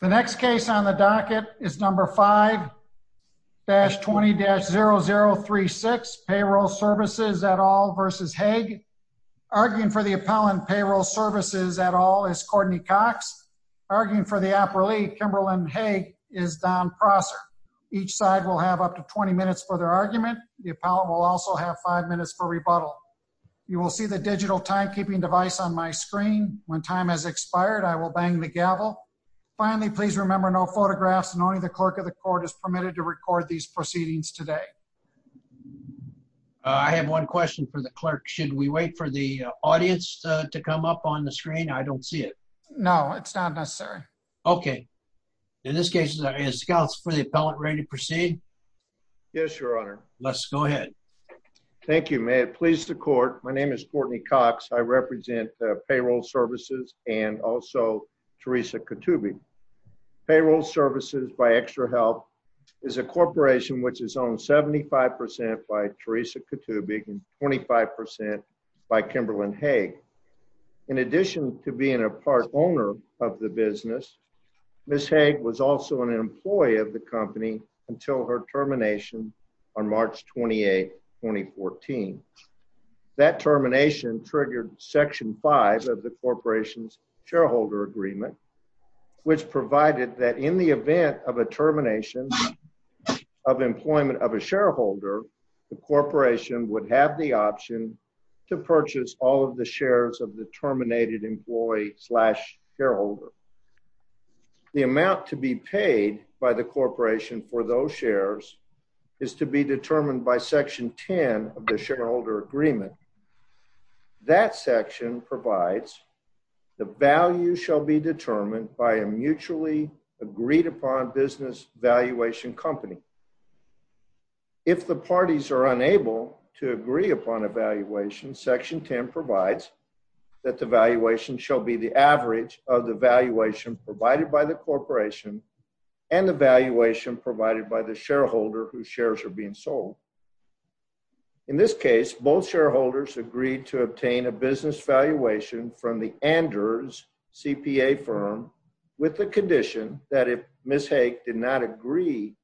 The next case on the docket is number 5-20-0036, Payroll Services et al. v. Haag. Arguing for the appellant, Payroll Services et al. is Courtney Cox. Arguing for the appreliee, Kimberlyn Haag, is Don Prosser. Each side will have up to 20 minutes for their argument. The appellant will also have 5 minutes for rebuttal. You will see the digital timekeeping device on my screen. When time has expired, I will bang the gavel. Finally, please remember no photographs. Only the clerk of the court is permitted to record these proceedings today. I have one question for the clerk. Should we wait for the audience to come up on the screen? I don't see it. No, it's not necessary. Okay. In this case, is the appellant ready to proceed? Yes, Your Honor. Let's go ahead. Thank you. May it please the court. My name is Courtney Cox. I represent Payroll Services and also Teresa Kutuby. Payroll Services by Extra Health is a corporation which is owned 75% by Teresa Kutuby and 25% by Kimberlyn Haag. In addition to being a part owner of the business, Ms. Haag was also an employee of the company until her termination on March 28, 2014. That termination triggered section five of the corporation's shareholder agreement, which provided that in the event of a termination of employment of a shareholder, the corporation would have the option to purchase all of the shares of the terminated employee slash shareholder. The amount to be paid by the corporation for those shares is to be determined by a mutually agreed upon business valuation company. If the parties are unable to agree upon a valuation, section 10 provides that the valuation shall be the average of the valuation provided by the corporation and the valuation provided by the shareholder whose shares are being sold. valuation company. In this case, both shareholders agreed to obtain a business valuation from the Anders CPA firm with the condition that if Ms. Haag did not agree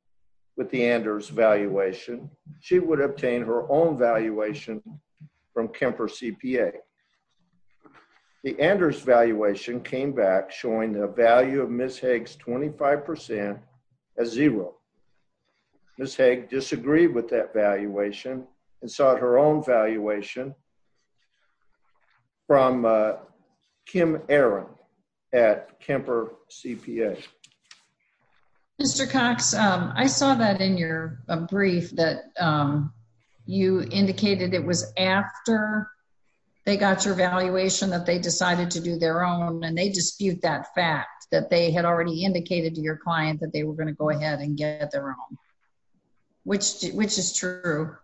with the Anders valuation, she would obtain her own valuation from Kemper CPA. The Anders valuation came back showing the value of Ms. Haag's 25% as zero. Ms. Haag disagreed with that valuation and sought her own valuation from Kim Aaron at Kemper CPA. Mr. Cox, I saw that in your brief that you indicated it was after they got your valuation, that they decided to do their own and they dispute that fact that they had already indicated to your client that they were going to go ahead and get their own, which, which is true.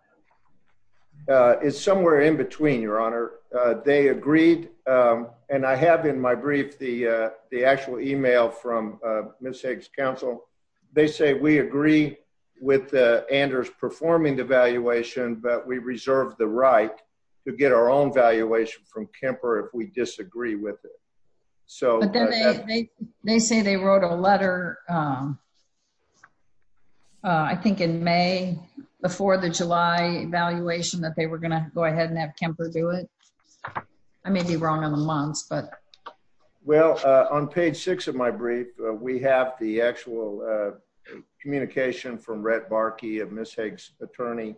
Uh, it's somewhere in between your honor. Uh, they agreed. Um, and I have in my brief, the, uh, the actual email from, uh, Ms. Haag's counsel, they say we agree with the Anders performing the valuation, but we reserved the right to get our own valuation from Kemper if we disagree with it. So. They say they wrote a letter, um, uh, I think in may, before the July valuation that they were going to go ahead and have Kemper do it. I may be wrong on the months, but well, uh, on page six of my brief, we have the actual, uh, communication from Rhett Barkey of Ms. Haag's attorney,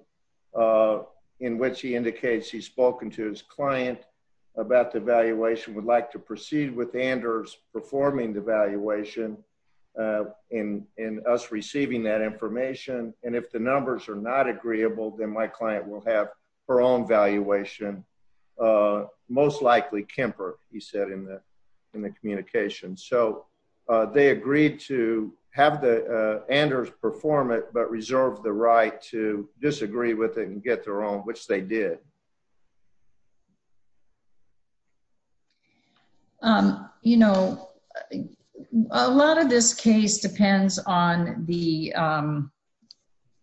uh, in which he indicates he's spoken to his client about the valuation. Uh, that the, uh, the client would like to proceed with Anders performing the valuation, uh, in, in us receiving that information. And if the numbers are not agreeable, then my client will have her own valuation. Uh, most likely Kemper, he said in the, in the communication. So, uh, they agreed to have the, uh, Anders perform it, but reserved the right to disagree with it and get their own, which they did. Um, you know, a lot of this case depends on the, um,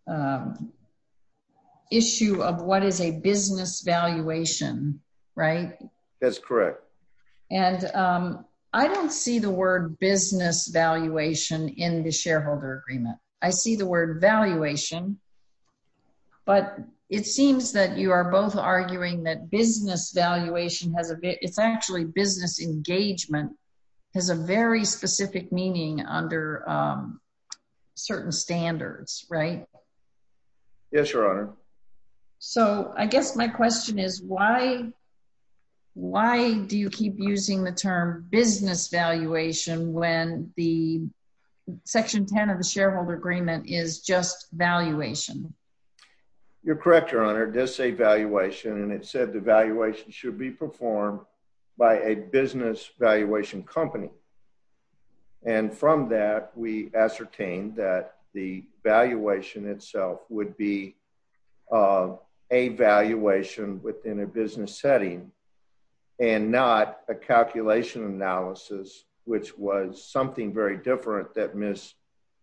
um, issue of what is a business valuation, right? That's correct. And, um, I don't see the word business valuation in the shareholder agreement. I see the word valuation, but it seems that you are both arguing that business valuation has a bit. It's actually business engagement has a very specific meaning under, um, certain standards, right? Yes, Your Honor. So I guess my question is why, why do you keep using the term business valuation when the section 10 of the shareholder agreement is just valuation. You're correct. Your Honor does say valuation. And it said the valuation should be performed by a business valuation company. And from that, we ascertain that the valuation itself would be, uh, a valuation within a business setting. And not a calculation analysis, which was something very different that miss,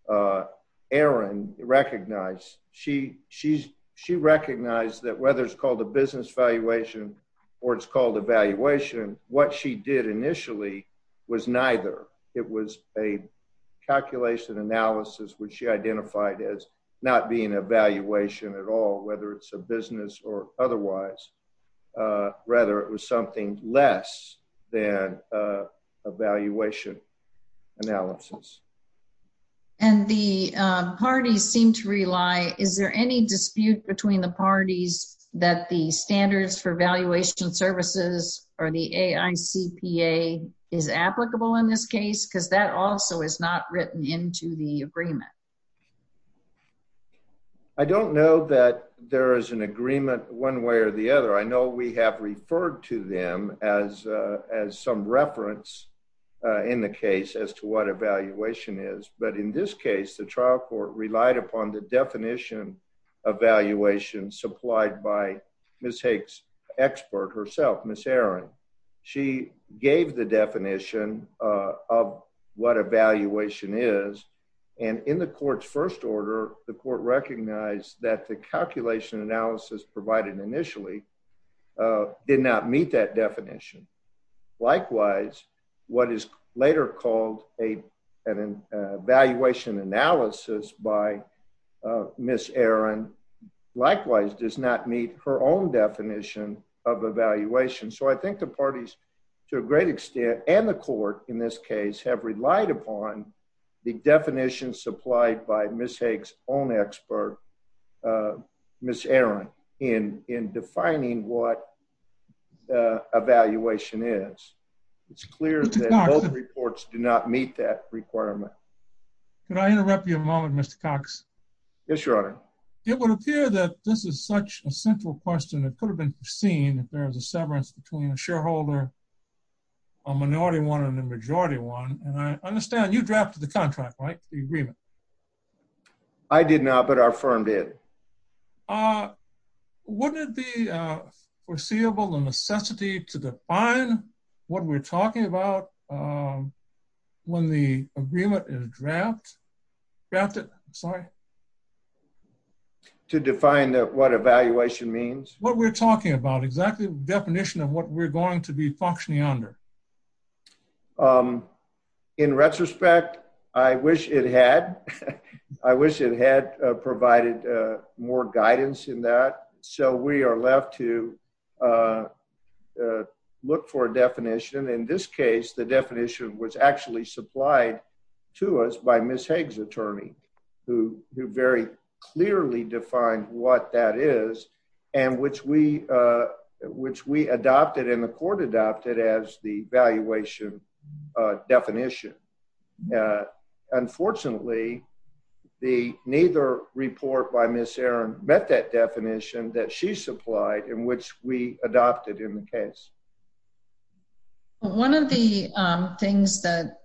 uh, Aaron recognized. She she's, she recognized that whether it's called a business valuation or it's called evaluation, what she did initially was neither. It was a calculation analysis, which she identified as not being a valuation at all, whether it's a business or otherwise, uh, rather it was something less than, uh, a valuation analysis. And the, um, parties seem to rely. Is there any dispute between the parties that the standards for valuation services or the AI CPA is applicable in this case? Cause that also is not written into the agreement. I don't know that there is an agreement one way or the other. I know we have referred to them as, uh, as some reference, uh, in the case as to what evaluation is. But in this case, the trial court relied upon the definition. Evaluation supplied by Ms. Hicks expert herself, miss Aaron. She gave the definition, uh, of what evaluation is. And in the court's first order, the court recognized that the calculation analysis provided initially. Uh, did not meet that definition. Likewise, what is later called a, an evaluation analysis by, uh, miss Aaron. Likewise, does not meet her own definition of evaluation. So I think the parties. To a great extent and the court in this case have relied upon. The definition supplied by miss Hicks on expert. Uh, miss Aaron in, in defining what, uh, evaluation is. It's clear that both reports do not meet that requirement. Can I interrupt you a moment, Mr. Cox? Yes, your honor. It would appear that this is such a central question that could have been seen if there was a severance between a shareholder. A minority one and the majority one. And I understand you drafted the contract, right? The agreement. I did not, but our firm did. Uh, Wouldn't it be, uh, foreseeable and necessity to define what we're talking about? Um, When the agreement is draft. Sorry. To define what evaluation means, what we're talking about exactly. Definition of what we're going to be functioning under. Um, In retrospect, I wish it had, I wish it had provided, uh, more guidance in that. So we are left to, uh, Uh, Look for a definition. In this case, the definition was actually supplied. To us by Ms. Hague's attorney. Who, who very clearly defined what that is. And which we, uh, which we adopted in the court adopted as the valuation. Uh, definition. Uh, unfortunately. The neither report by Ms. Aaron met that definition that she supplied in which we adopted in the case. One of the, um, things that.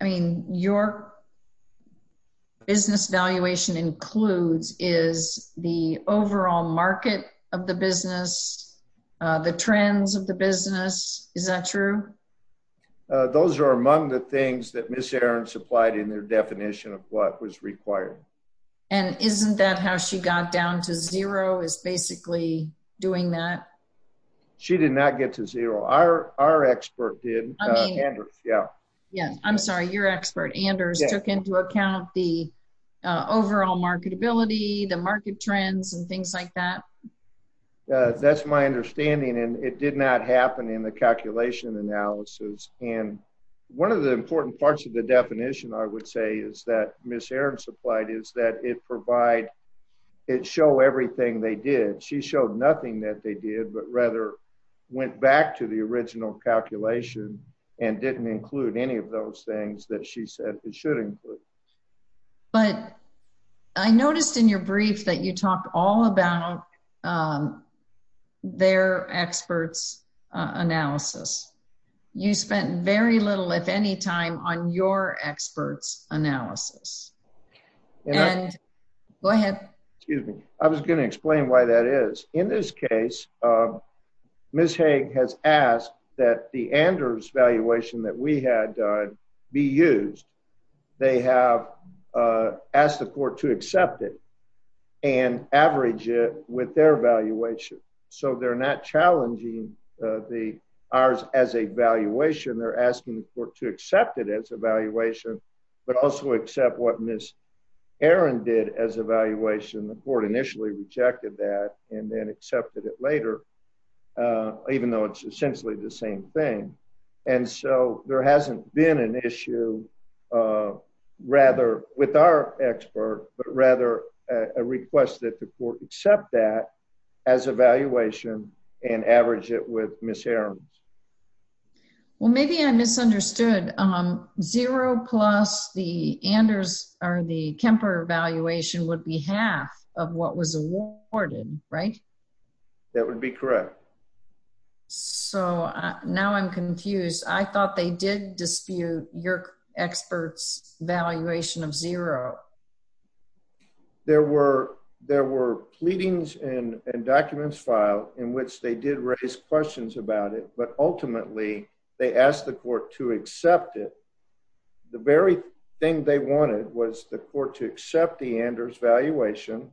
I mean, your. Business valuation includes is the overall market of the business. Uh, the trends of the business. Is that true? Uh, I don't know. Uh, those are among the things that Ms. Aaron supplied in their definition of what was required. And isn't that how she got down to zero is basically doing that. She did not get to zero. Our, our expert did. Yeah. Yeah. I'm sorry. Your expert Anders took into account the. Uh, overall marketability, the market trends and things like that. Uh, that's my understanding. And it did not happen in the calculation analysis. And one of the important parts of the definition, I would say is that Ms. Aaron supplied is that it provide. It show everything they did. She showed nothing that they did, but rather went back to the original calculation and didn't include any of those things that she said it should include. But. I noticed in your brief that you talked all about. Um, They're experts. Uh, analysis. You spent very little, if any time on your experts analysis. And. Go ahead. Excuse me. I was going to explain why that is in this case. Uh, Ms. Hague has asked that the Anders valuation that we had done. Be used. Uh, as a valuation. They have, uh, ask the court to accept it. And average it with their valuation. So they're not challenging. Uh, the. Ours as a valuation. They're asking the court to accept it as a valuation. But also accept what Ms. Aaron did as evaluation. The board initially rejected that and then accepted it later. Uh, even though it's essentially the same thing. Uh, Ms. Hague has asked that the board accept it as a valuation. And so there hasn't been an issue. Uh, rather with our expert, but rather. A request that the court accept that. As a valuation and average it with Ms. Aaron. Well, maybe I misunderstood. Um, Ms. Hague has asked that the board accept it as a valuation. Uh, zero plus the Anders or the Kemper evaluation would be half. Of what was awarded. Right. That would be correct. So now I'm confused. I thought they did dispute your experts valuation of zero. There were, there were pleadings and documents file in which they did raise questions about it. But ultimately they asked the court to accept it. The very thing they wanted was the court to accept the Anders valuation.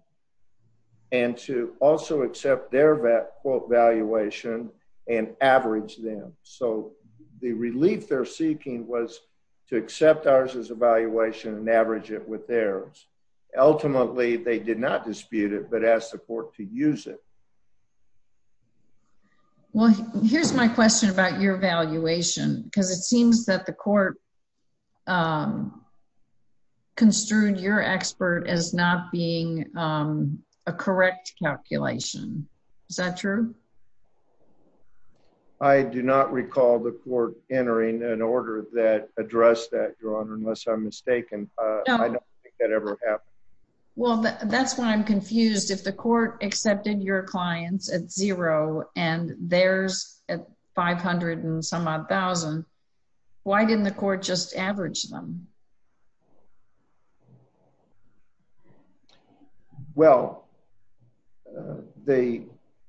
And to also accept their vet quote valuation and average them. So the relief they're seeking was to accept ours as evaluation and average it with theirs. And ultimately they did not dispute it, but as support to use it. Well, here's my question about your valuation. Cause it seems that the court. Um, Construed your expert as not being, um, a correct calculation. Is that true? Um, I do not recall the court entering an order that address that your honor, unless I'm mistaken. I don't think that ever happened. Well, that's why I'm confused. If the court accepted your clients at zero and there's. 500 and some odd thousand. Why didn't the court just average them? Well, The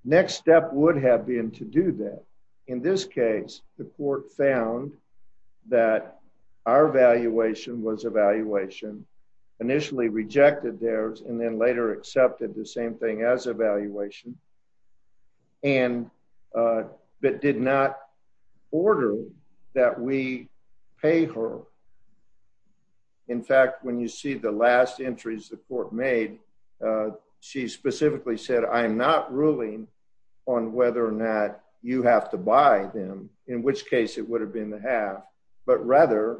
next step would have been to do that. In this case, the court found. That our valuation was evaluation. Initially rejected theirs and then later accepted the same thing as evaluation. And, uh, but did not. Order that we pay her. In fact, when you see the last entries, the court made, uh, she specifically said, I am not ruling. On whether or not you have to buy them, in which case it would have been the half, but rather.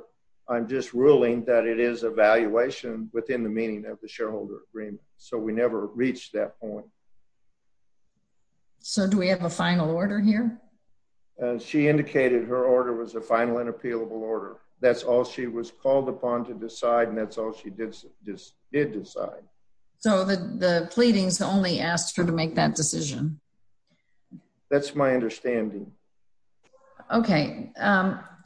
I'm just ruling that it is a valuation within the meaning of the shareholder agreement. So we never reached that point. So do we have a final order here? No, we don't have a final order. She indicated her order was a final and appealable order. That's all she was called upon to decide. And that's all she did. Just did decide. So the, the pleadings only asked her to make that decision. That's my understanding. Okay.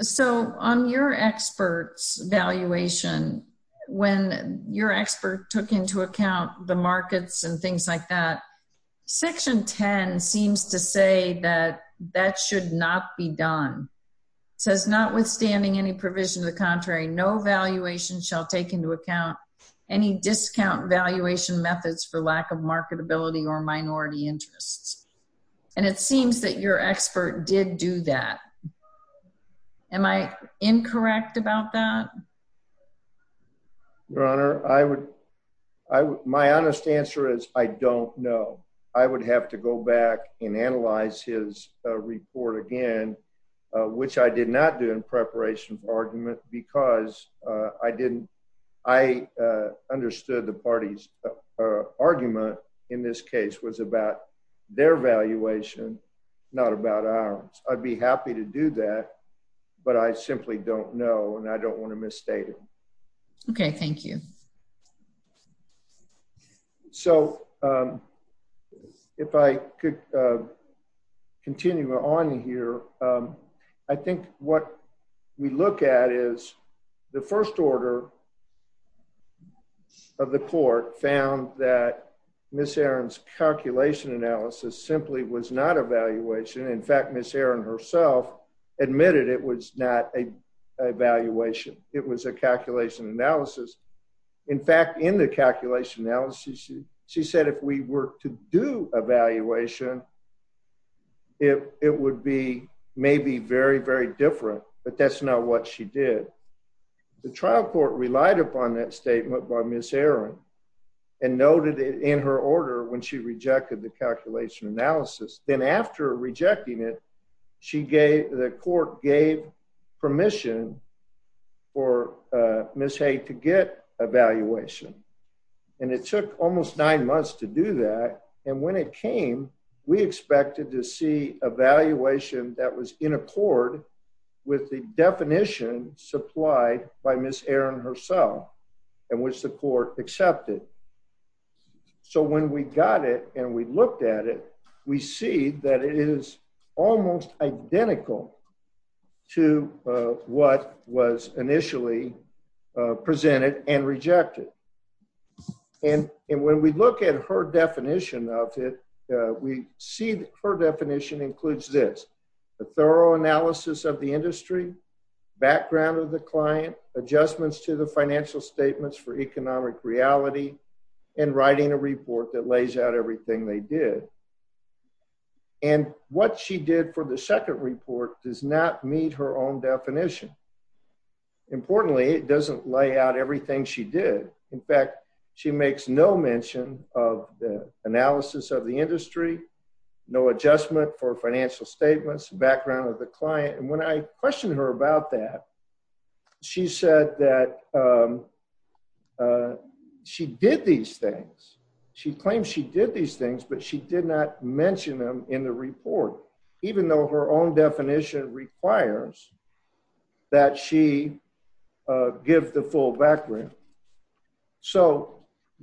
So on your experts, valuation when your expert took into account the markets and things like that. Section 10 seems to say that that should not be done. It says not withstanding any provision to the contrary, no valuation shall take into account. Any discount valuation methods for lack of marketability or minority interests. And it seems that your expert did do that. Am I incorrect about that? Your honor. I would. I my honest answer is I don't know. I would have to go back and analyze his report again. Which I did not do in preparation for argument because I didn't. I understood the parties. Was about their valuation. Not about ours. I'd be happy to do that. But I simply don't know. And I don't want to misstate it. Okay. Thank you. So. If I could continue on here. I think what we look at is the first order. Of the court found that Miss Aaron's calculation analysis simply was not evaluation. In fact, Miss Aaron herself admitted it was not a. Evaluation. It was a calculation analysis. In fact, in the calculation analysis. She said, if we were to do evaluation. It, it would be maybe very, very different, but that's not what she did. The trial court relied upon that statement by Miss Aaron. And noted it in her order. When she rejected the calculation analysis. Then after rejecting it. She gave the court gave permission. Or Miss Haye to get a valuation. And it took almost nine months to do that. And when it came, we expected to see a valuation that was in accord. With the definition supplied by Miss Aaron herself. And which the court accepted. So when we got it and we looked at it, we see that it is. Almost identical. To what was initially. Presented and rejected. And when we look at her definition of it. We see that her definition includes this. The thorough analysis of the industry. Background of the client adjustments to the financial statements for economic reality. And writing a report that lays out everything they did. And what she did for the second report does not meet her own definition. Importantly, it doesn't lay out everything she did. In fact, she makes no mention of the analysis of the industry. No adjustment for financial statements, background of the client. And when I questioned her about that. She said that. She did these things. She claims she did these things, but she did not mention them in the report, even though her own definition requires. That she. Give the full background. So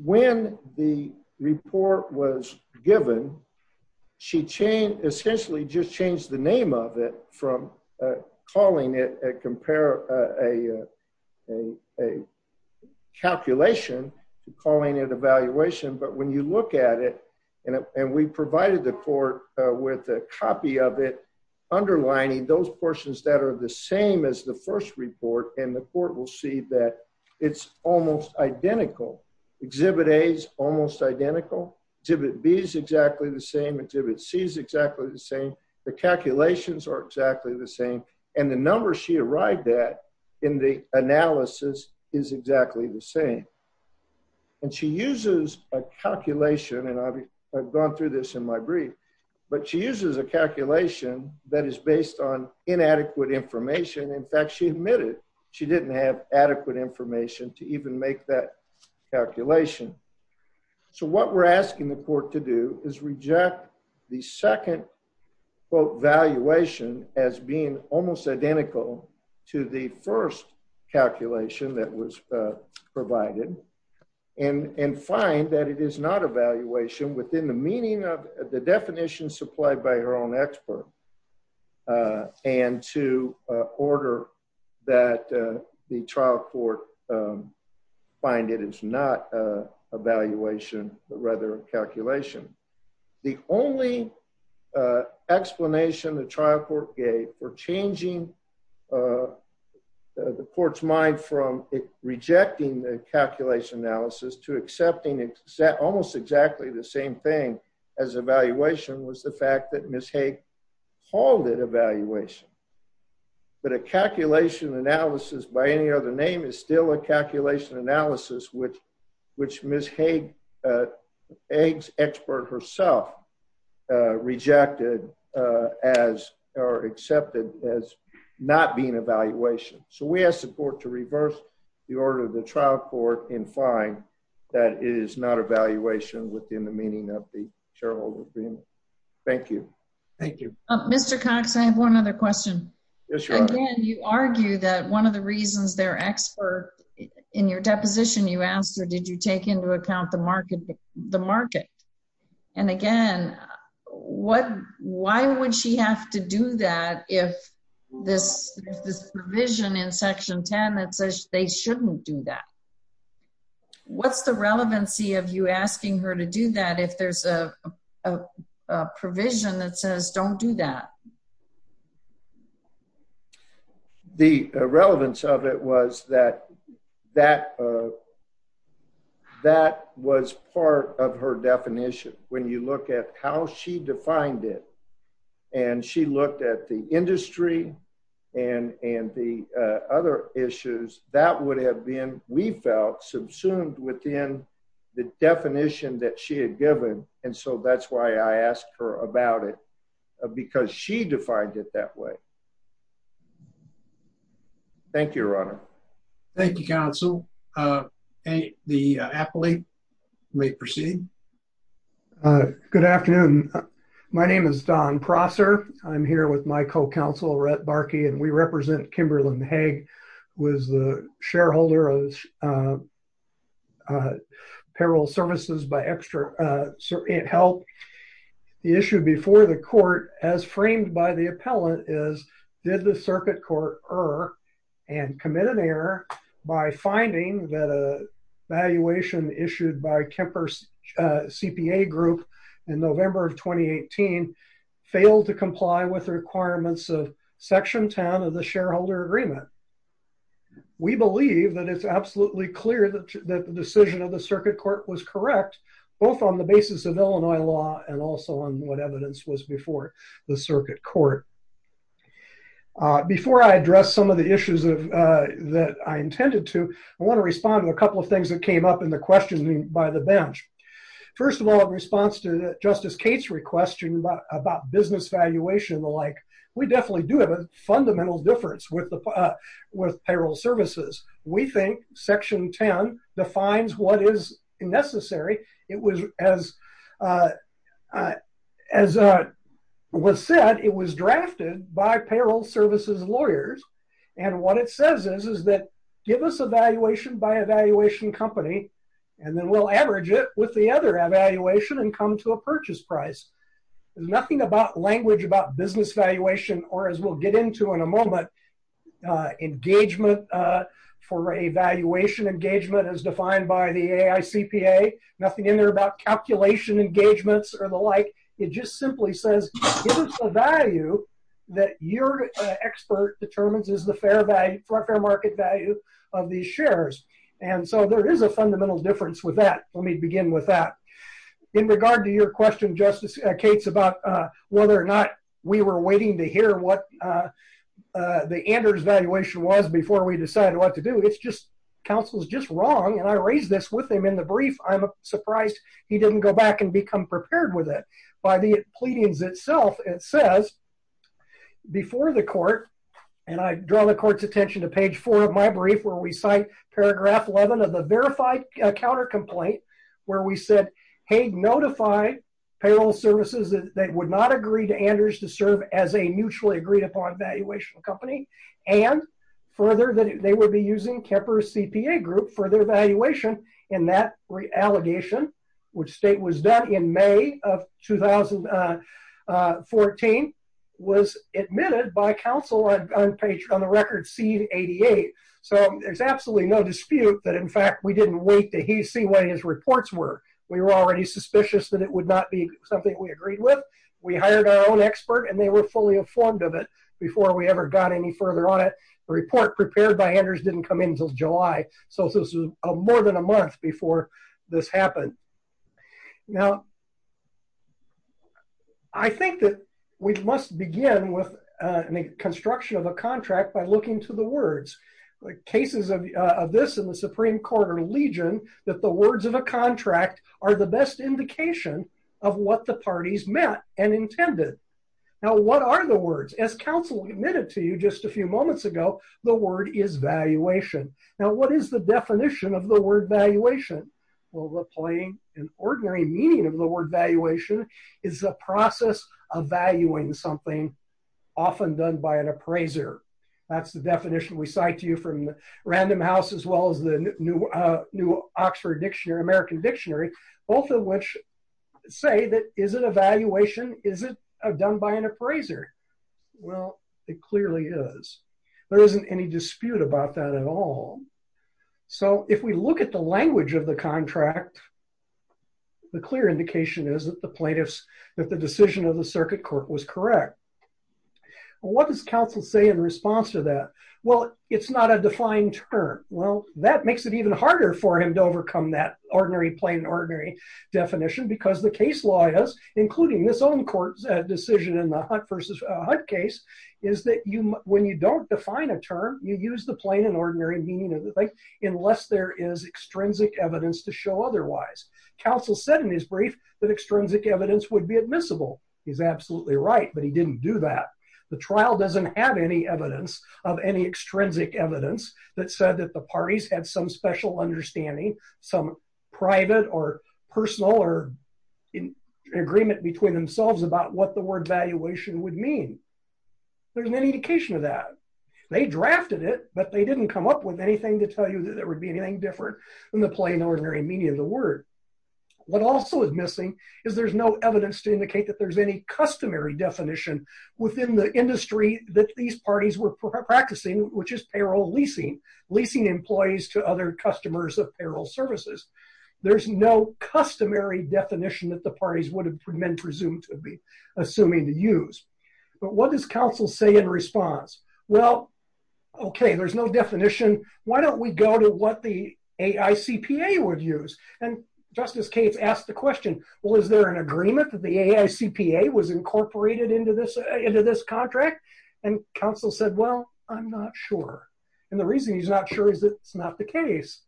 when the report was given. She changed essentially just changed the name of it from. Calling it a compare. A. Calculation. Calling it evaluation, but when you look at it. And we provided the court with a copy of it. Underlining those portions that are the same as the first report and the court will see that it's almost identical. Exhibit A's almost identical. Exhibit B is exactly the same. Exhibit C is exactly the same. The calculations are exactly the same. And the number she arrived at. In the analysis is exactly the same. And she uses a calculation and I've. I've gone through this in my brief. But she uses a calculation that is based on inadequate information. In fact, she admitted. That she didn't have adequate information to even make that. Calculation. So what we're asking the court to do is reject. The second. Well, valuation as being almost identical to the first calculation that was provided. And, and find that it is not evaluation within the meaning of the definition supplied by her own expert. And to order. That the trial court. Find it. It's not. Evaluation rather than calculation. The only. Explanation the trial court gave or changing. The court's mind from. Rejecting the calculation analysis to accepting it set almost exactly the same thing as evaluation was the fact that Ms. Hague. The trial court. Called it evaluation. But a calculation analysis by any other name is still a calculation analysis, which, which Ms. Hague. Eggs expert herself. Rejected. As are accepted as. Not being evaluation. So we have support to reverse. The order of the trial court in fine. It's already decided in the category of the amendments, that it is not evaluation within the meaning of the. Shareholder agreement. Thank you. Thank you. Mr. Cox. I have one other question. You argue that one of the reasons they're expert. In your deposition, you asked her, did you take into account the market? The market. And again, what. What's the relevance of that? Why would she have to do that? If this, this provision in section 10, that says they shouldn't do that. What's the relevancy of you asking her to do that? If there's a. A provision that says, don't do that. I don't know. The relevance of it was that. That. That was part of her definition. When you look at how she defined it. And she looked at the industry. And, and the other issues that would have been, we felt subsumed within the definition that she had given. And so that's why I asked her about it. Because she defined it that way. Thank you, your honor. Thank you council. Hey, the appellee. May proceed. Good afternoon. My name is Don Prosser. I'm here with my co-counsel, Rhett Barkey. And we represent Kimberlin Hague. Was the shareholder of. Apparel services by extra help. The issue before the court as framed by the appellant is. Did the circuit court or. And commit an error by finding that a. Valuation issued by Kemper's CPA group. In November of 2018. Failed to comply with the requirements of section 10 of the shareholder agreement. We believe that it's absolutely clear that the decision of the circuit court was correct. Both on the basis of Illinois law and also on what evidence was before the circuit court. Before I address some of the issues of, uh, that I intended to. I want to respond to a couple of things that came up in the questioning by the bench. First of all, in response to the justice case request. About business valuation and the like. We definitely do have a fundamental difference with the. With payroll services. We think section 10 defines what is necessary. It was as a. As a. Was said it was drafted by payroll services lawyers. And what it says is, is that. Give us a valuation by evaluation company. And then we'll average it with the other evaluation and come to a purchase price. There's nothing about language about business valuation or as we'll get into in a moment. Uh, engagement, uh, for a valuation engagement as defined by the AI CPA. Nothing in there about calculation engagements or the like. It just simply says. The value. That you're an expert determines is the fair value for a fair market value. Of these shares. And so there is a fundamental difference with that. Let me begin with that. In regard to your question, justice, uh, Kate's about, uh, whether or not. We were waiting to hear what, uh, uh, The Anders valuation was before we decided what to do. It's just. Counsel's just wrong. And I raised this with him in the brief. I'm surprised. He didn't go back and become prepared with it by the pleadings itself. It says. Before the court. And I draw the court's attention to page four of my brief where we sign paragraph 11 of the verified counter complaint. Where we said, Hey, notify. Payroll services that they would not agree to Anders to serve as a mutually agreed upon valuation company. And further than they would be using Kemper CPA group for their valuation. And that reallocation. Which state was done in May of 2000. Uh, uh, 14. That complaint was admitted by counsel on page on the record. See 88. So there's absolutely no dispute that in fact, we didn't wait to see what his reports were. We were already suspicious that it would not be something we agreed with. We hired our own expert and they were fully informed of it. Before we ever got any further on it. The report prepared by Anders didn't come in until July. So this was a more than a month before. This happened. Now. I think that we must begin with a construction of a contract by looking to the words. Like cases of this and the Supreme court or legion, that the words of a contract are the best indication. Of what the parties met and intended. Now, what are the words as counsel admitted to you just a few moments ago, the word is valuation. Now, what is the definition of the word valuation? Well, the plain and ordinary meaning of the word valuation is the process of valuing something. Often done by an appraiser. That's the definition we cite to you from random house, as well as the new, new Oxford dictionary, American dictionary. Both of which. Say that. Is it a valuation? Is it a done by an appraiser? Well, it clearly is. There isn't any dispute about that at all. So if we look at the language of the contract, The clear indication is that the plaintiffs, that the decision of the circuit court was correct. What does counsel say in response to that? Well, it's not a defined term. Well, that makes it even harder for him to overcome that ordinary plain, ordinary definition, because the case law is including this own court. Decision in the hunt versus a hunt case is that you, when you don't define a term, you use the plain and ordinary meaning of the thing, unless there is extrinsic evidence to show. Otherwise counsel said in his brief that extrinsic evidence would be admissible. He's absolutely right, but he didn't do that. The trial doesn't have any evidence of any extrinsic evidence that said that the parties had some special understanding, some private or personal or in agreement between themselves about what the word valuation would mean. There's an indication of that. They drafted it, but they didn't come up with anything to tell you that there would be anything different than the plain ordinary meaning of the word. What also is missing is there's no evidence to indicate that there's any customary definition within the industry that these parties were practicing, which is payroll leasing, leasing employees to other customers of payroll services. There's no customary definition that the parties would have been presumed to be assuming to use. But what does counsel say in response? Well, okay, there's no definition. Why don't we go to what the AICPA would use? And Justice Cates asked the question, well, is there an agreement that the AICPA was incorporated into this contract? And counsel said, well, I'm not sure. And the reason he's not sure is that it's not the case.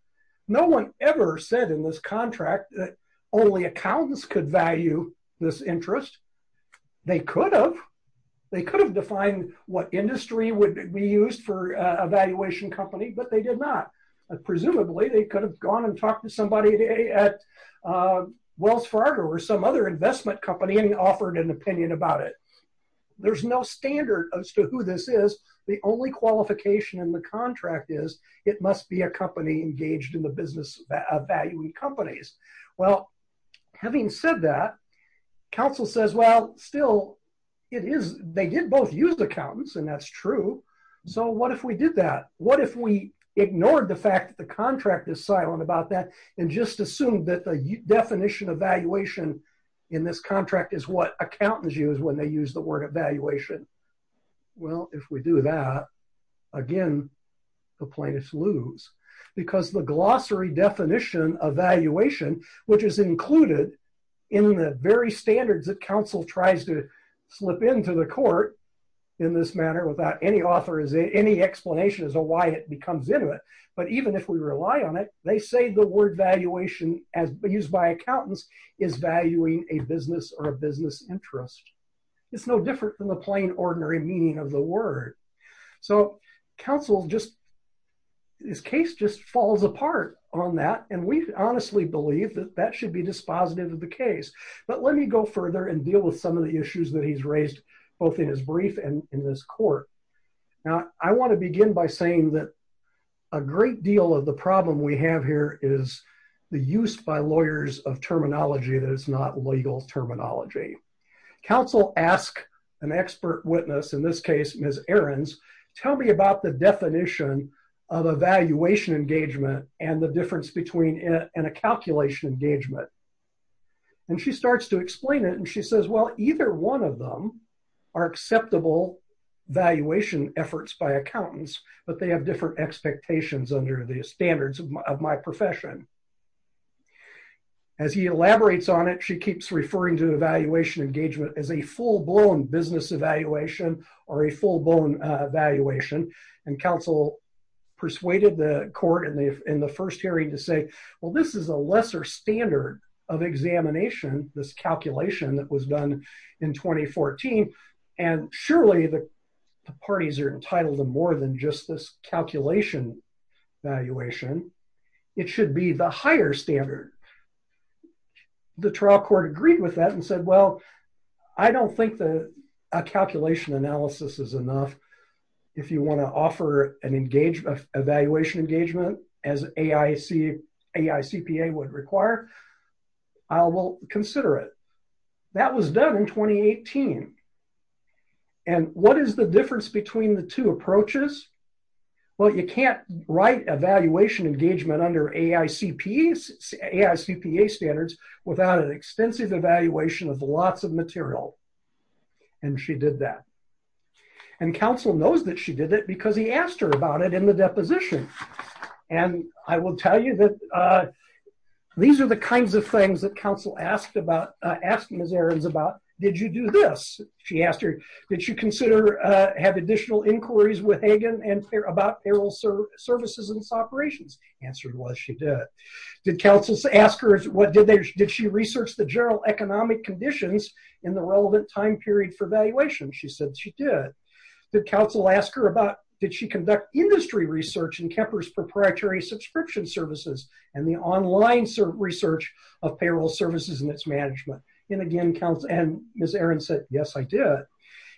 No one ever said in this contract that only accountants could value this interest. They could have. Defined what industry would be used for a valuation company, but they did not. Presumably they could have gone and talked to somebody at Wells Fargo or some other investment company and offered an opinion about it. There's no standard as to who this is. The only qualification in the contract is it must be a company engaged in the business of valuing companies. Well, having said that. Counsel says, well, still it is. They did both use accountants and that's true. So what if we did that? What if we ignored the fact that the contract is silent about that? And just assume that the definition of valuation. In this contract is what accountants use when they use the word evaluation. Well, if we do that again, The plaintiff's lose because the glossary definition of valuation, which is included in the very standards that counsel tries to slip into the court. In this manner without any author is any explanation as to why it becomes into it. But even if we rely on it, they say the word valuation as used by accountants is valuing a business or a business interest. It's no different than the plain ordinary meaning of the word. So counsel just. His case just falls apart on that. And we honestly believe that that should be dispositive of the case, but let me go further and deal with some of the issues that he's raised both in his brief and in this court. Now I want to begin by saying that a great deal of the problem we have here is the use by lawyers of terminology. That is not legal terminology. Counsel ask an expert witness in this case, Ms. Aaron's tell me about the definition of evaluation engagement and the difference between it and a calculation engagement. And she starts to explain it. And she says, well, either one of them are acceptable valuation efforts by accountants, but they have different expectations under the standards of my profession. As he elaborates on it, she keeps referring to evaluation engagement as a full blown business evaluation or a full blown evaluation. And counsel persuaded the court in the first hearing to say, well, this is a lesser standard of examination. This calculation that was done in 2014. And surely the parties are entitled to more than just this calculation valuation. It should be the higher standard. The trial court agreed with that and said, well, I don't think that a calculation analysis is enough. If you want to offer an engagement evaluation engagement as AIC, AICPA would require, I will consider it. That was done in 2018. And what is the difference between the two approaches? Well, you can't write evaluation engagement under AICP, AICPA standards without an extensive evaluation of lots of material. And she did that. And counsel knows that she did it because he asked her about it in the deposition. And I will tell you that these are the kinds of things that counsel asked about, asked Ms. Aarons about, did you do this? She asked her, did you consider, have additional inquiries with Hagan and about payroll services and business operations? Answered was, she did. Did counsel ask her, did she research the general economic conditions in the relevant time period for valuation? She said she did. Did counsel ask her about, did she conduct industry research in Kemper's proprietary subscription services and the online research of payroll services and its management? And again, Ms. Aarons said, yes, I did.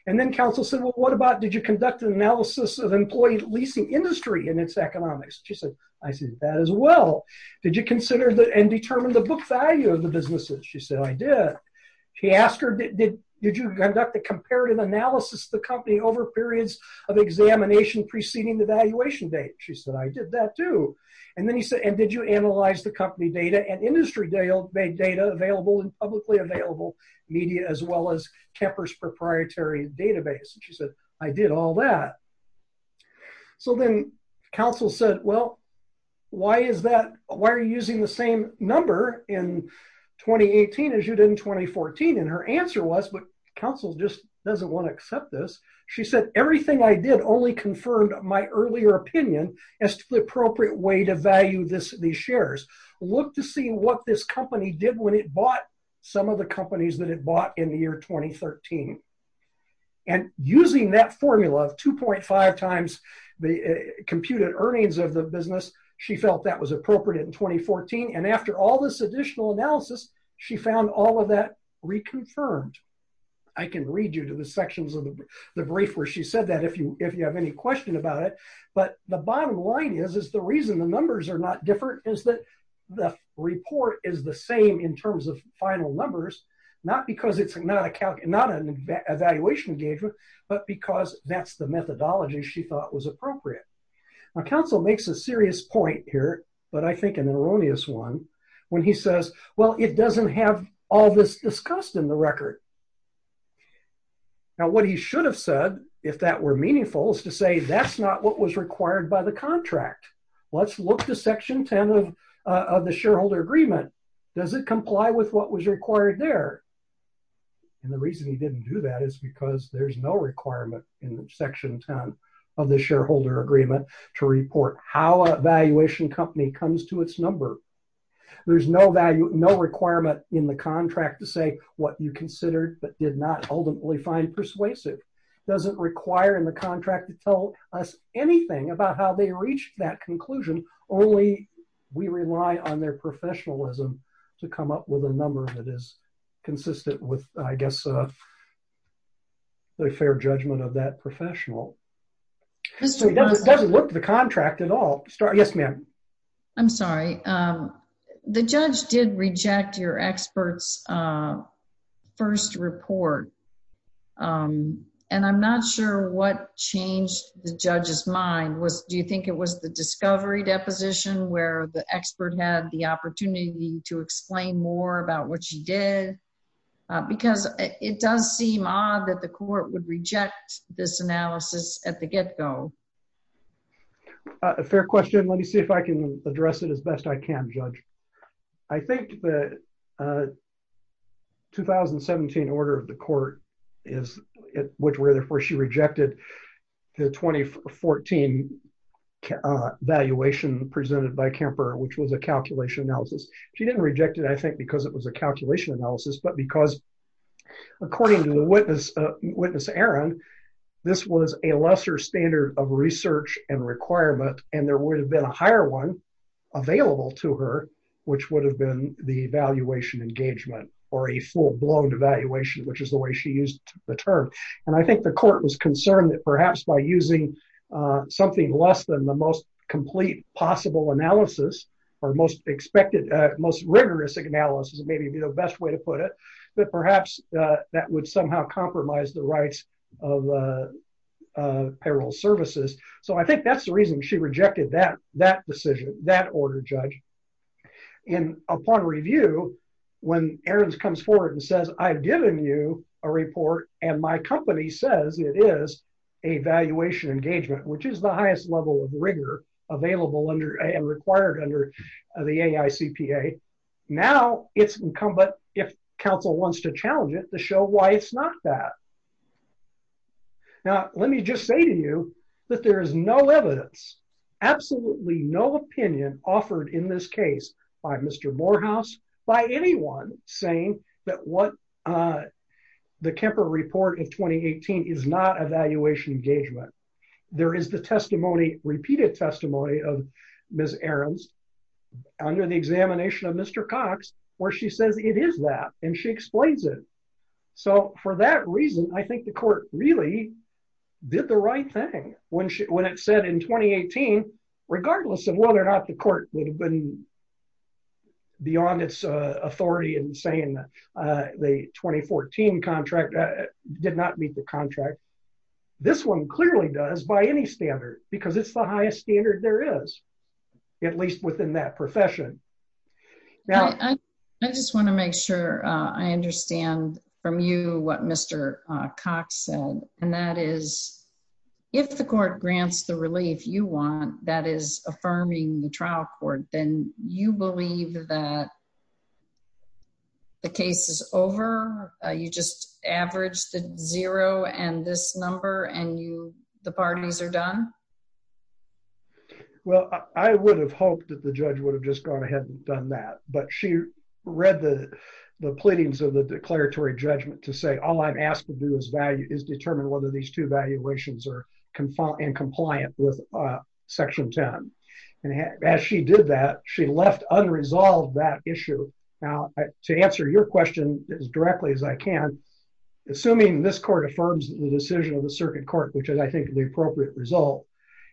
And then counsel said, well, what about, did you conduct an analysis of employee leasing industry and its economics? She said, I see that as well. Did you consider the, and determine the book value of the businesses? She said, I did. She asked her, did you conduct a comparative analysis, the company over periods of examination preceding the valuation date? She said, I did that too. And then he said, and did you analyze the company data and industry data available in publicly available media, as well as Kemper's proprietary database? And she said, I did all that. So then counsel said, well, why is that? Why are you using the same number in 2018 as you did in 2014? And her answer was, but counsel just doesn't want to accept this. She said, everything I did only confirmed my earlier opinion as to the appropriate way to value this, these shares. Look to see what this company did when it bought some of the companies that it acquired in 2013. And using that formula of 2.5 times the computed earnings of the business, she felt that was appropriate in 2014. And after all this additional analysis, she found all of that reconfirmed. I can read you to the sections of the brief where she said that if you, if you have any question about it, but the bottom line is, is the reason the numbers are not different is that the report is the same in 2014. the reason the numbers are different is because it's not a calculation, not an evaluation engagement, but because that's the methodology she thought was appropriate. Now counsel makes a serious point here, but I think an erroneous one, when he says, well, it doesn't have all this discussed in the record. Now, what he should have said, if that were meaningful, is to say, that's not what was required by the contract. Let's look to section 10 of the shareholder agreement. Does it comply with what was required there? And the reason he didn't do that is because there's no requirement in the section 10 of the shareholder agreement to report how a valuation company comes to its number. There's no value, no requirement in the contract to say what you considered, but did not ultimately find persuasive. Doesn't require in the contract to tell us anything about how they reached that conclusion. Only we rely on their professionalism to come up with a number that is consistent with, I guess, the fair judgment of that professional. It doesn't look to the contract at all. Yes, ma'am. I'm sorry. The judge did reject your experts first report. And I'm not sure what changed the judge's mind was, do you think it was the discovery deposition where the expert had the opportunity to explain more about what she did? Because it does seem odd that the court would reject this analysis at the get-go. A fair question. Let me see if I can address it as best I can judge. I think the 2017 order of the court is, where she rejected the 2014 valuation presented by Kemper, which was a calculation analysis. She didn't reject it, I think, because it was a calculation analysis, but because according to the witness, witness Aaron, this was a lesser standard of research and requirement. And there would have been a higher one available to her, which would have been the evaluation engagement or a full blown evaluation, which is the way she used the term. And I think the court was concerned that perhaps by using something less than the most complete possible analysis or most expected, most rigorous analysis, it may be the best way to put it, but perhaps that would somehow compromise the rights of payroll services. So I think that's the reason she rejected that, that decision, that order judge. And upon review, when Aaron's comes forward and says, I've given you a report and my company says it is a valuation engagement, which is the highest level of rigor available under and required under the AI CPA. Now it's incumbent, if council wants to challenge it to show why it's not that. Now, let me just say to you that there is no evidence, absolutely no opinion offered in this case by Mr. Morehouse, by anyone saying that what the Kemper report of 2018 is not evaluation engagement. There is the testimony, repeated testimony of Ms. Aaron's under the examination of Mr. Cox, where she says it is that, and she explains it. So for that reason, I think the court really did the right thing when she, when it said in 2018, regardless of whether or not the court would have been beyond its authority and saying that the 2014 contract did not meet the contract. This one clearly does by any standard because it's the highest standard there is, at least within that profession. I just want to make sure I understand from you what Mr. Cox said, and that is if the court grants the relief you want, that is affirming the trial court, then you believe that the case is over. You just averaged the zero and this number and you, the pardons are done. Well, I would have hoped that the judge would have just gone ahead and done that, but she read the, the pleadings of the declaratory judgment to say, all I've asked to do is value is determine whether these two valuations are confined and compliant with a section 10. And as she did that, she left unresolved that issue. Now to answer your question as directly as I can, assuming this court affirms the decision of the circuit court, which is I think the appropriate result,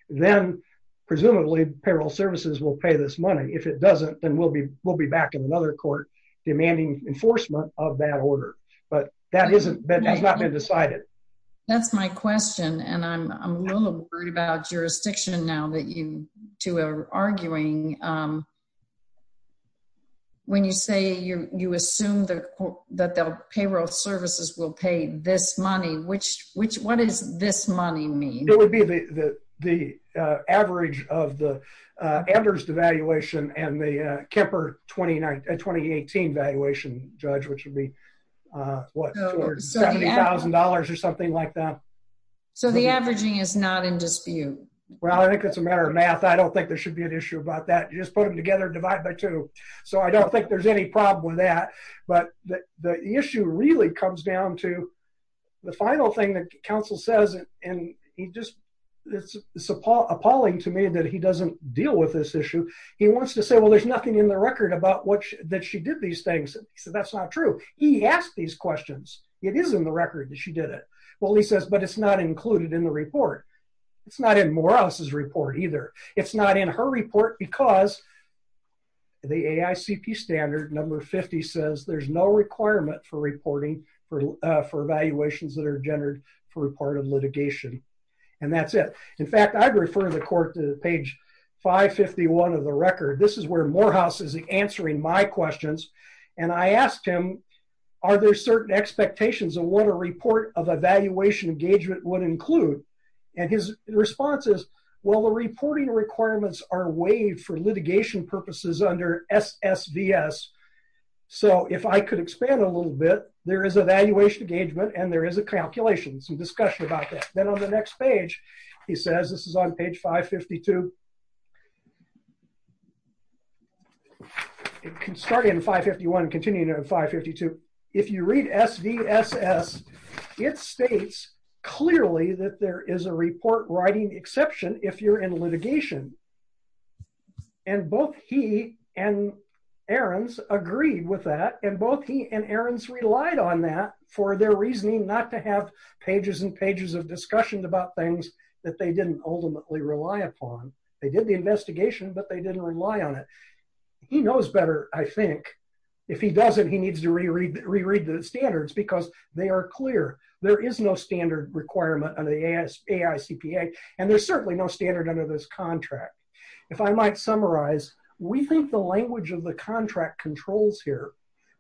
then presumably payroll services will pay this money. If it doesn't, then we'll be, we'll be back in another court demanding enforcement of that order. But that isn't been, that's not been decided. That's my question. And I'm, I'm a little worried about jurisdiction now that you two are arguing. When you say you're, you assume that the payroll services will pay this money, which, which, what is this money mean? It would be the, the average of the average devaluation and the Kemper 29, 2018 valuation judge, which would be what $70,000 or something like that. So the averaging is not in dispute. Well, I think that's a matter of math. I don't think there should be an issue about that. You just put them together, divide by two. So I don't think there's any problem with that, but the issue really comes down to the final thing that council says. And he just, it's a Paul appalling to me that he doesn't deal with this issue. He wants to say, well, there's nothing in the record about what that she did these things. So that's not true. He asked these questions. It is in the record that she did it. Well, he says, but it's not included in the report. It's not in more houses report either. It's not in her report because the AICP standard number 50 says there's no requirement for reporting for, for valuations that are gendered for report of litigation. And that's it. In fact, I'd refer the court to page five 51 of the record. This is where more houses answering my questions. And I asked him, are there certain expectations of what a report of evaluation engagement would include? And his response is, well, the reporting requirements are waived for litigation purposes under S S V S. So if I could expand a little bit, there is a valuation engagement and there is a calculation, some discussion about that. Then on the next page, he says, this is on page five 52. It can start in five 51, continue to five 52. If you read S V S S, it states clearly that there is a report writing exception. If you're in litigation and both he and Aaron's agreed with that and both he and Aaron's relied on that for their reasoning, not to have pages and pages of discussion about things that they didn't ultimately rely upon. They did the investigation, but they didn't rely on it. He knows better. I think if he doesn't, he needs to reread reread the standards because they are clear. There is no standard requirement on the AS AI CPA. And there's certainly no standard under this contract. If I might summarize, we think the language of the contract controls here.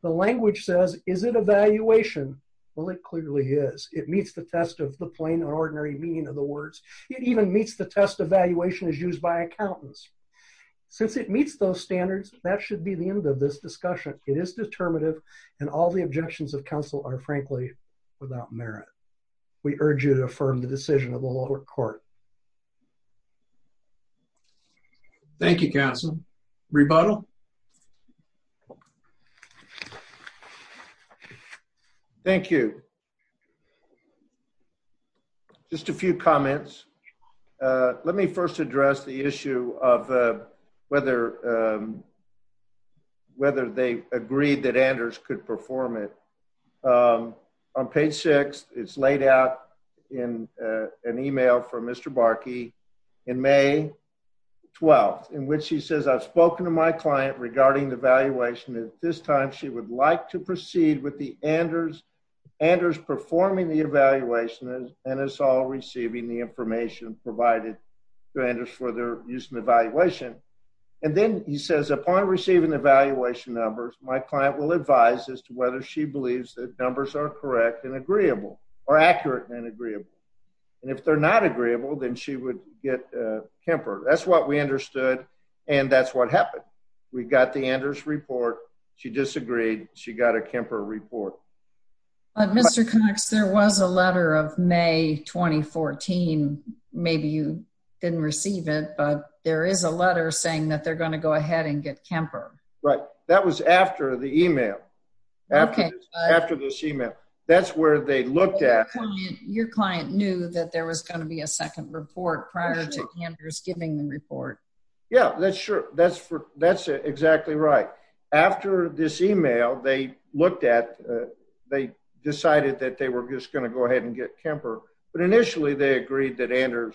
The language says, is it evaluation? Well, it clearly is. It meets the test of the plain and ordinary meaning of the words. It even meets the test evaluation is used by accountants. Since it meets those standards, that should be the end of this discussion. It is determinative and all the objections of council are frankly without merit. We urge you to affirm the decision of the lower court. Thank you. Council rebuttal. Thank you. Thank you. Just a few comments. Let me first address the issue of whether. Whether they agreed that Anders could perform it. On page six, it's laid out. In an email from Mr. Barkey. In may. 12. In which he says I've spoken to my client regarding the valuation. At this time, she would like to proceed with the Anders. Anders performing the evaluation. And it's all receiving the information provided. To Anders for their use and evaluation. And then he says upon receiving the valuation numbers, my client will advise as to whether she believes that numbers are correct and agreeable or accurate and agreeable. And if they're not agreeable, then she would get a Kemper. That's what we understood. And that's what happened. We got the Anders report. She disagreed. She got a Kemper report. Mr. Cox. There was a letter of may 2014. Maybe you didn't receive it, but there is a letter saying that they're going to go ahead and get Kemper. Right. That was after the email. After this email, that's where they looked at. Your client knew that there was going to be a second report prior to giving the report. Yeah, that's sure. That's for that's exactly right. After this email, they looked at, they decided that they were just going to go ahead and get Kemper. But initially they agreed that Anders.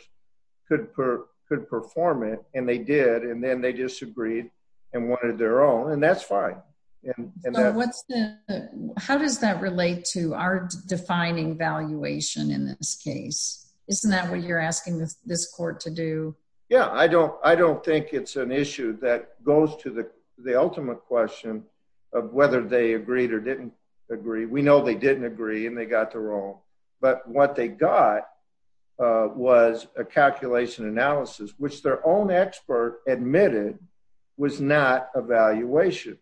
Could per could perform it and they did. And then they disagreed and wanted their own and that's fine. And what's the, How does that relate to our defining valuation in this case? Isn't that what you're asking this court to do? Yeah, I don't, I don't think it's an issue that goes to the ultimate question of whether they agreed or didn't agree. We know they didn't agree and they got the role, but what they got. Was a calculation analysis, which their own expert admitted was not a valuation.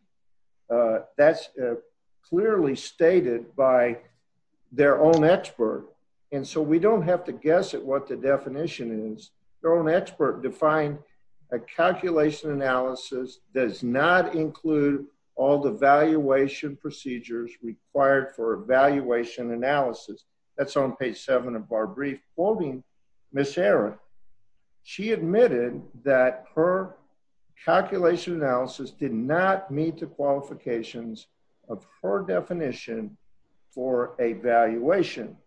That's clearly stated by their own expert. And so we don't have to guess at what the definition is thrown expert defined. A calculation analysis does not include all the valuation procedures required for evaluation analysis. That's on page seven of our brief holding miss Aaron. She admitted that her calculation analysis did not meet the qualifications of her definition for a valuation.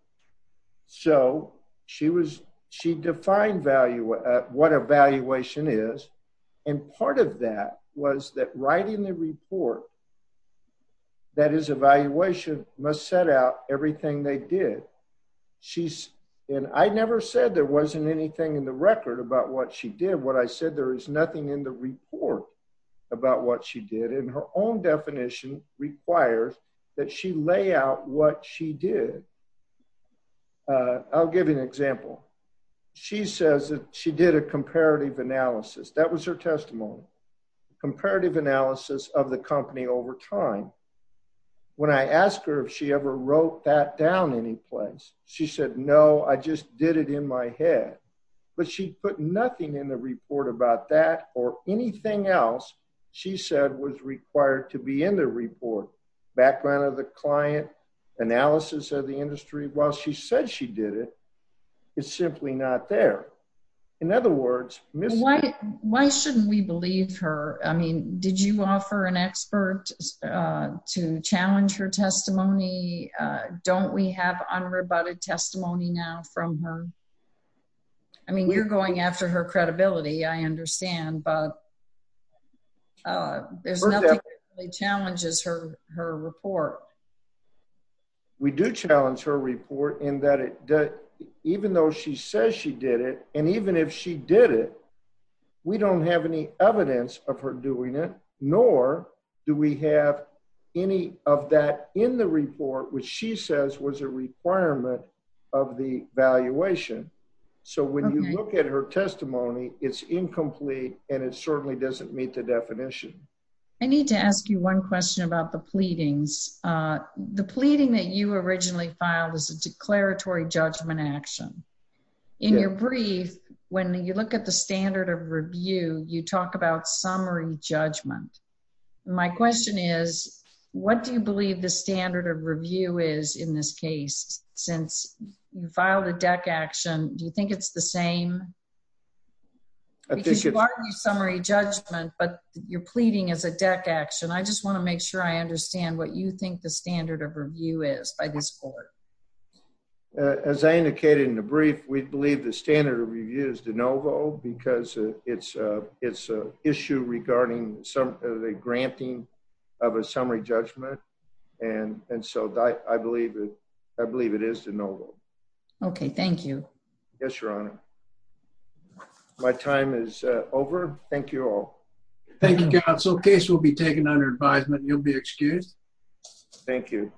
So she was, she defined value at what evaluation is. And part of that was that writing the report. That is evaluation must set out everything they did. She's in. I never said there wasn't anything in the record about what she did. What I said, there is nothing in the report about what she did in her own definition requires that she lay out what she did. I'll give you an example. She says that she did a comparative analysis. That was her testimony, comparative analysis of the company over time. When I asked her if she ever wrote that down any place, she said, no, I just did it in my head, but she put nothing in the report about that or anything else. She said was required to be in the report background of the client analysis of the industry. While she said she did it, it's simply not there. In other words, why, why shouldn't we believe her? I mean, did you offer an expert? To challenge her testimony? Don't we have unrebutted testimony now from her? I mean, you're going after her credibility. I understand, but there's nothing that really challenges her, her report. We do challenge her report in that it does, even though she says she did it. And even if she did it, we don't have any evidence of her doing it, nor do we have any of that in the report, which she says was a requirement of the valuation. So when you look at her testimony, it's incomplete and it certainly doesn't meet the definition. I need to ask you one question about the pleadings. The pleading that you originally filed was a declaratory judgment action. In your brief, when you look at the standard of review, you talk about summary judgment. My question is what do you believe the standard of review is in this case? Since you filed a deck action, do you think it's the same? Summary judgment, but you're pleading as a deck action. I just want to make sure I understand what you think the standard of review is by this court. As I indicated in the brief, we believe the standard of review is de novo because it's a, it's a issue regarding some of the granting of a summary judgment. And, and so I believe it, I believe it is de novo. Okay. Thank you. Yes, Your Honor. My time is over. Thank you all. Thank you, counsel. Case will be taken under advisement. You'll be excused. Thank you.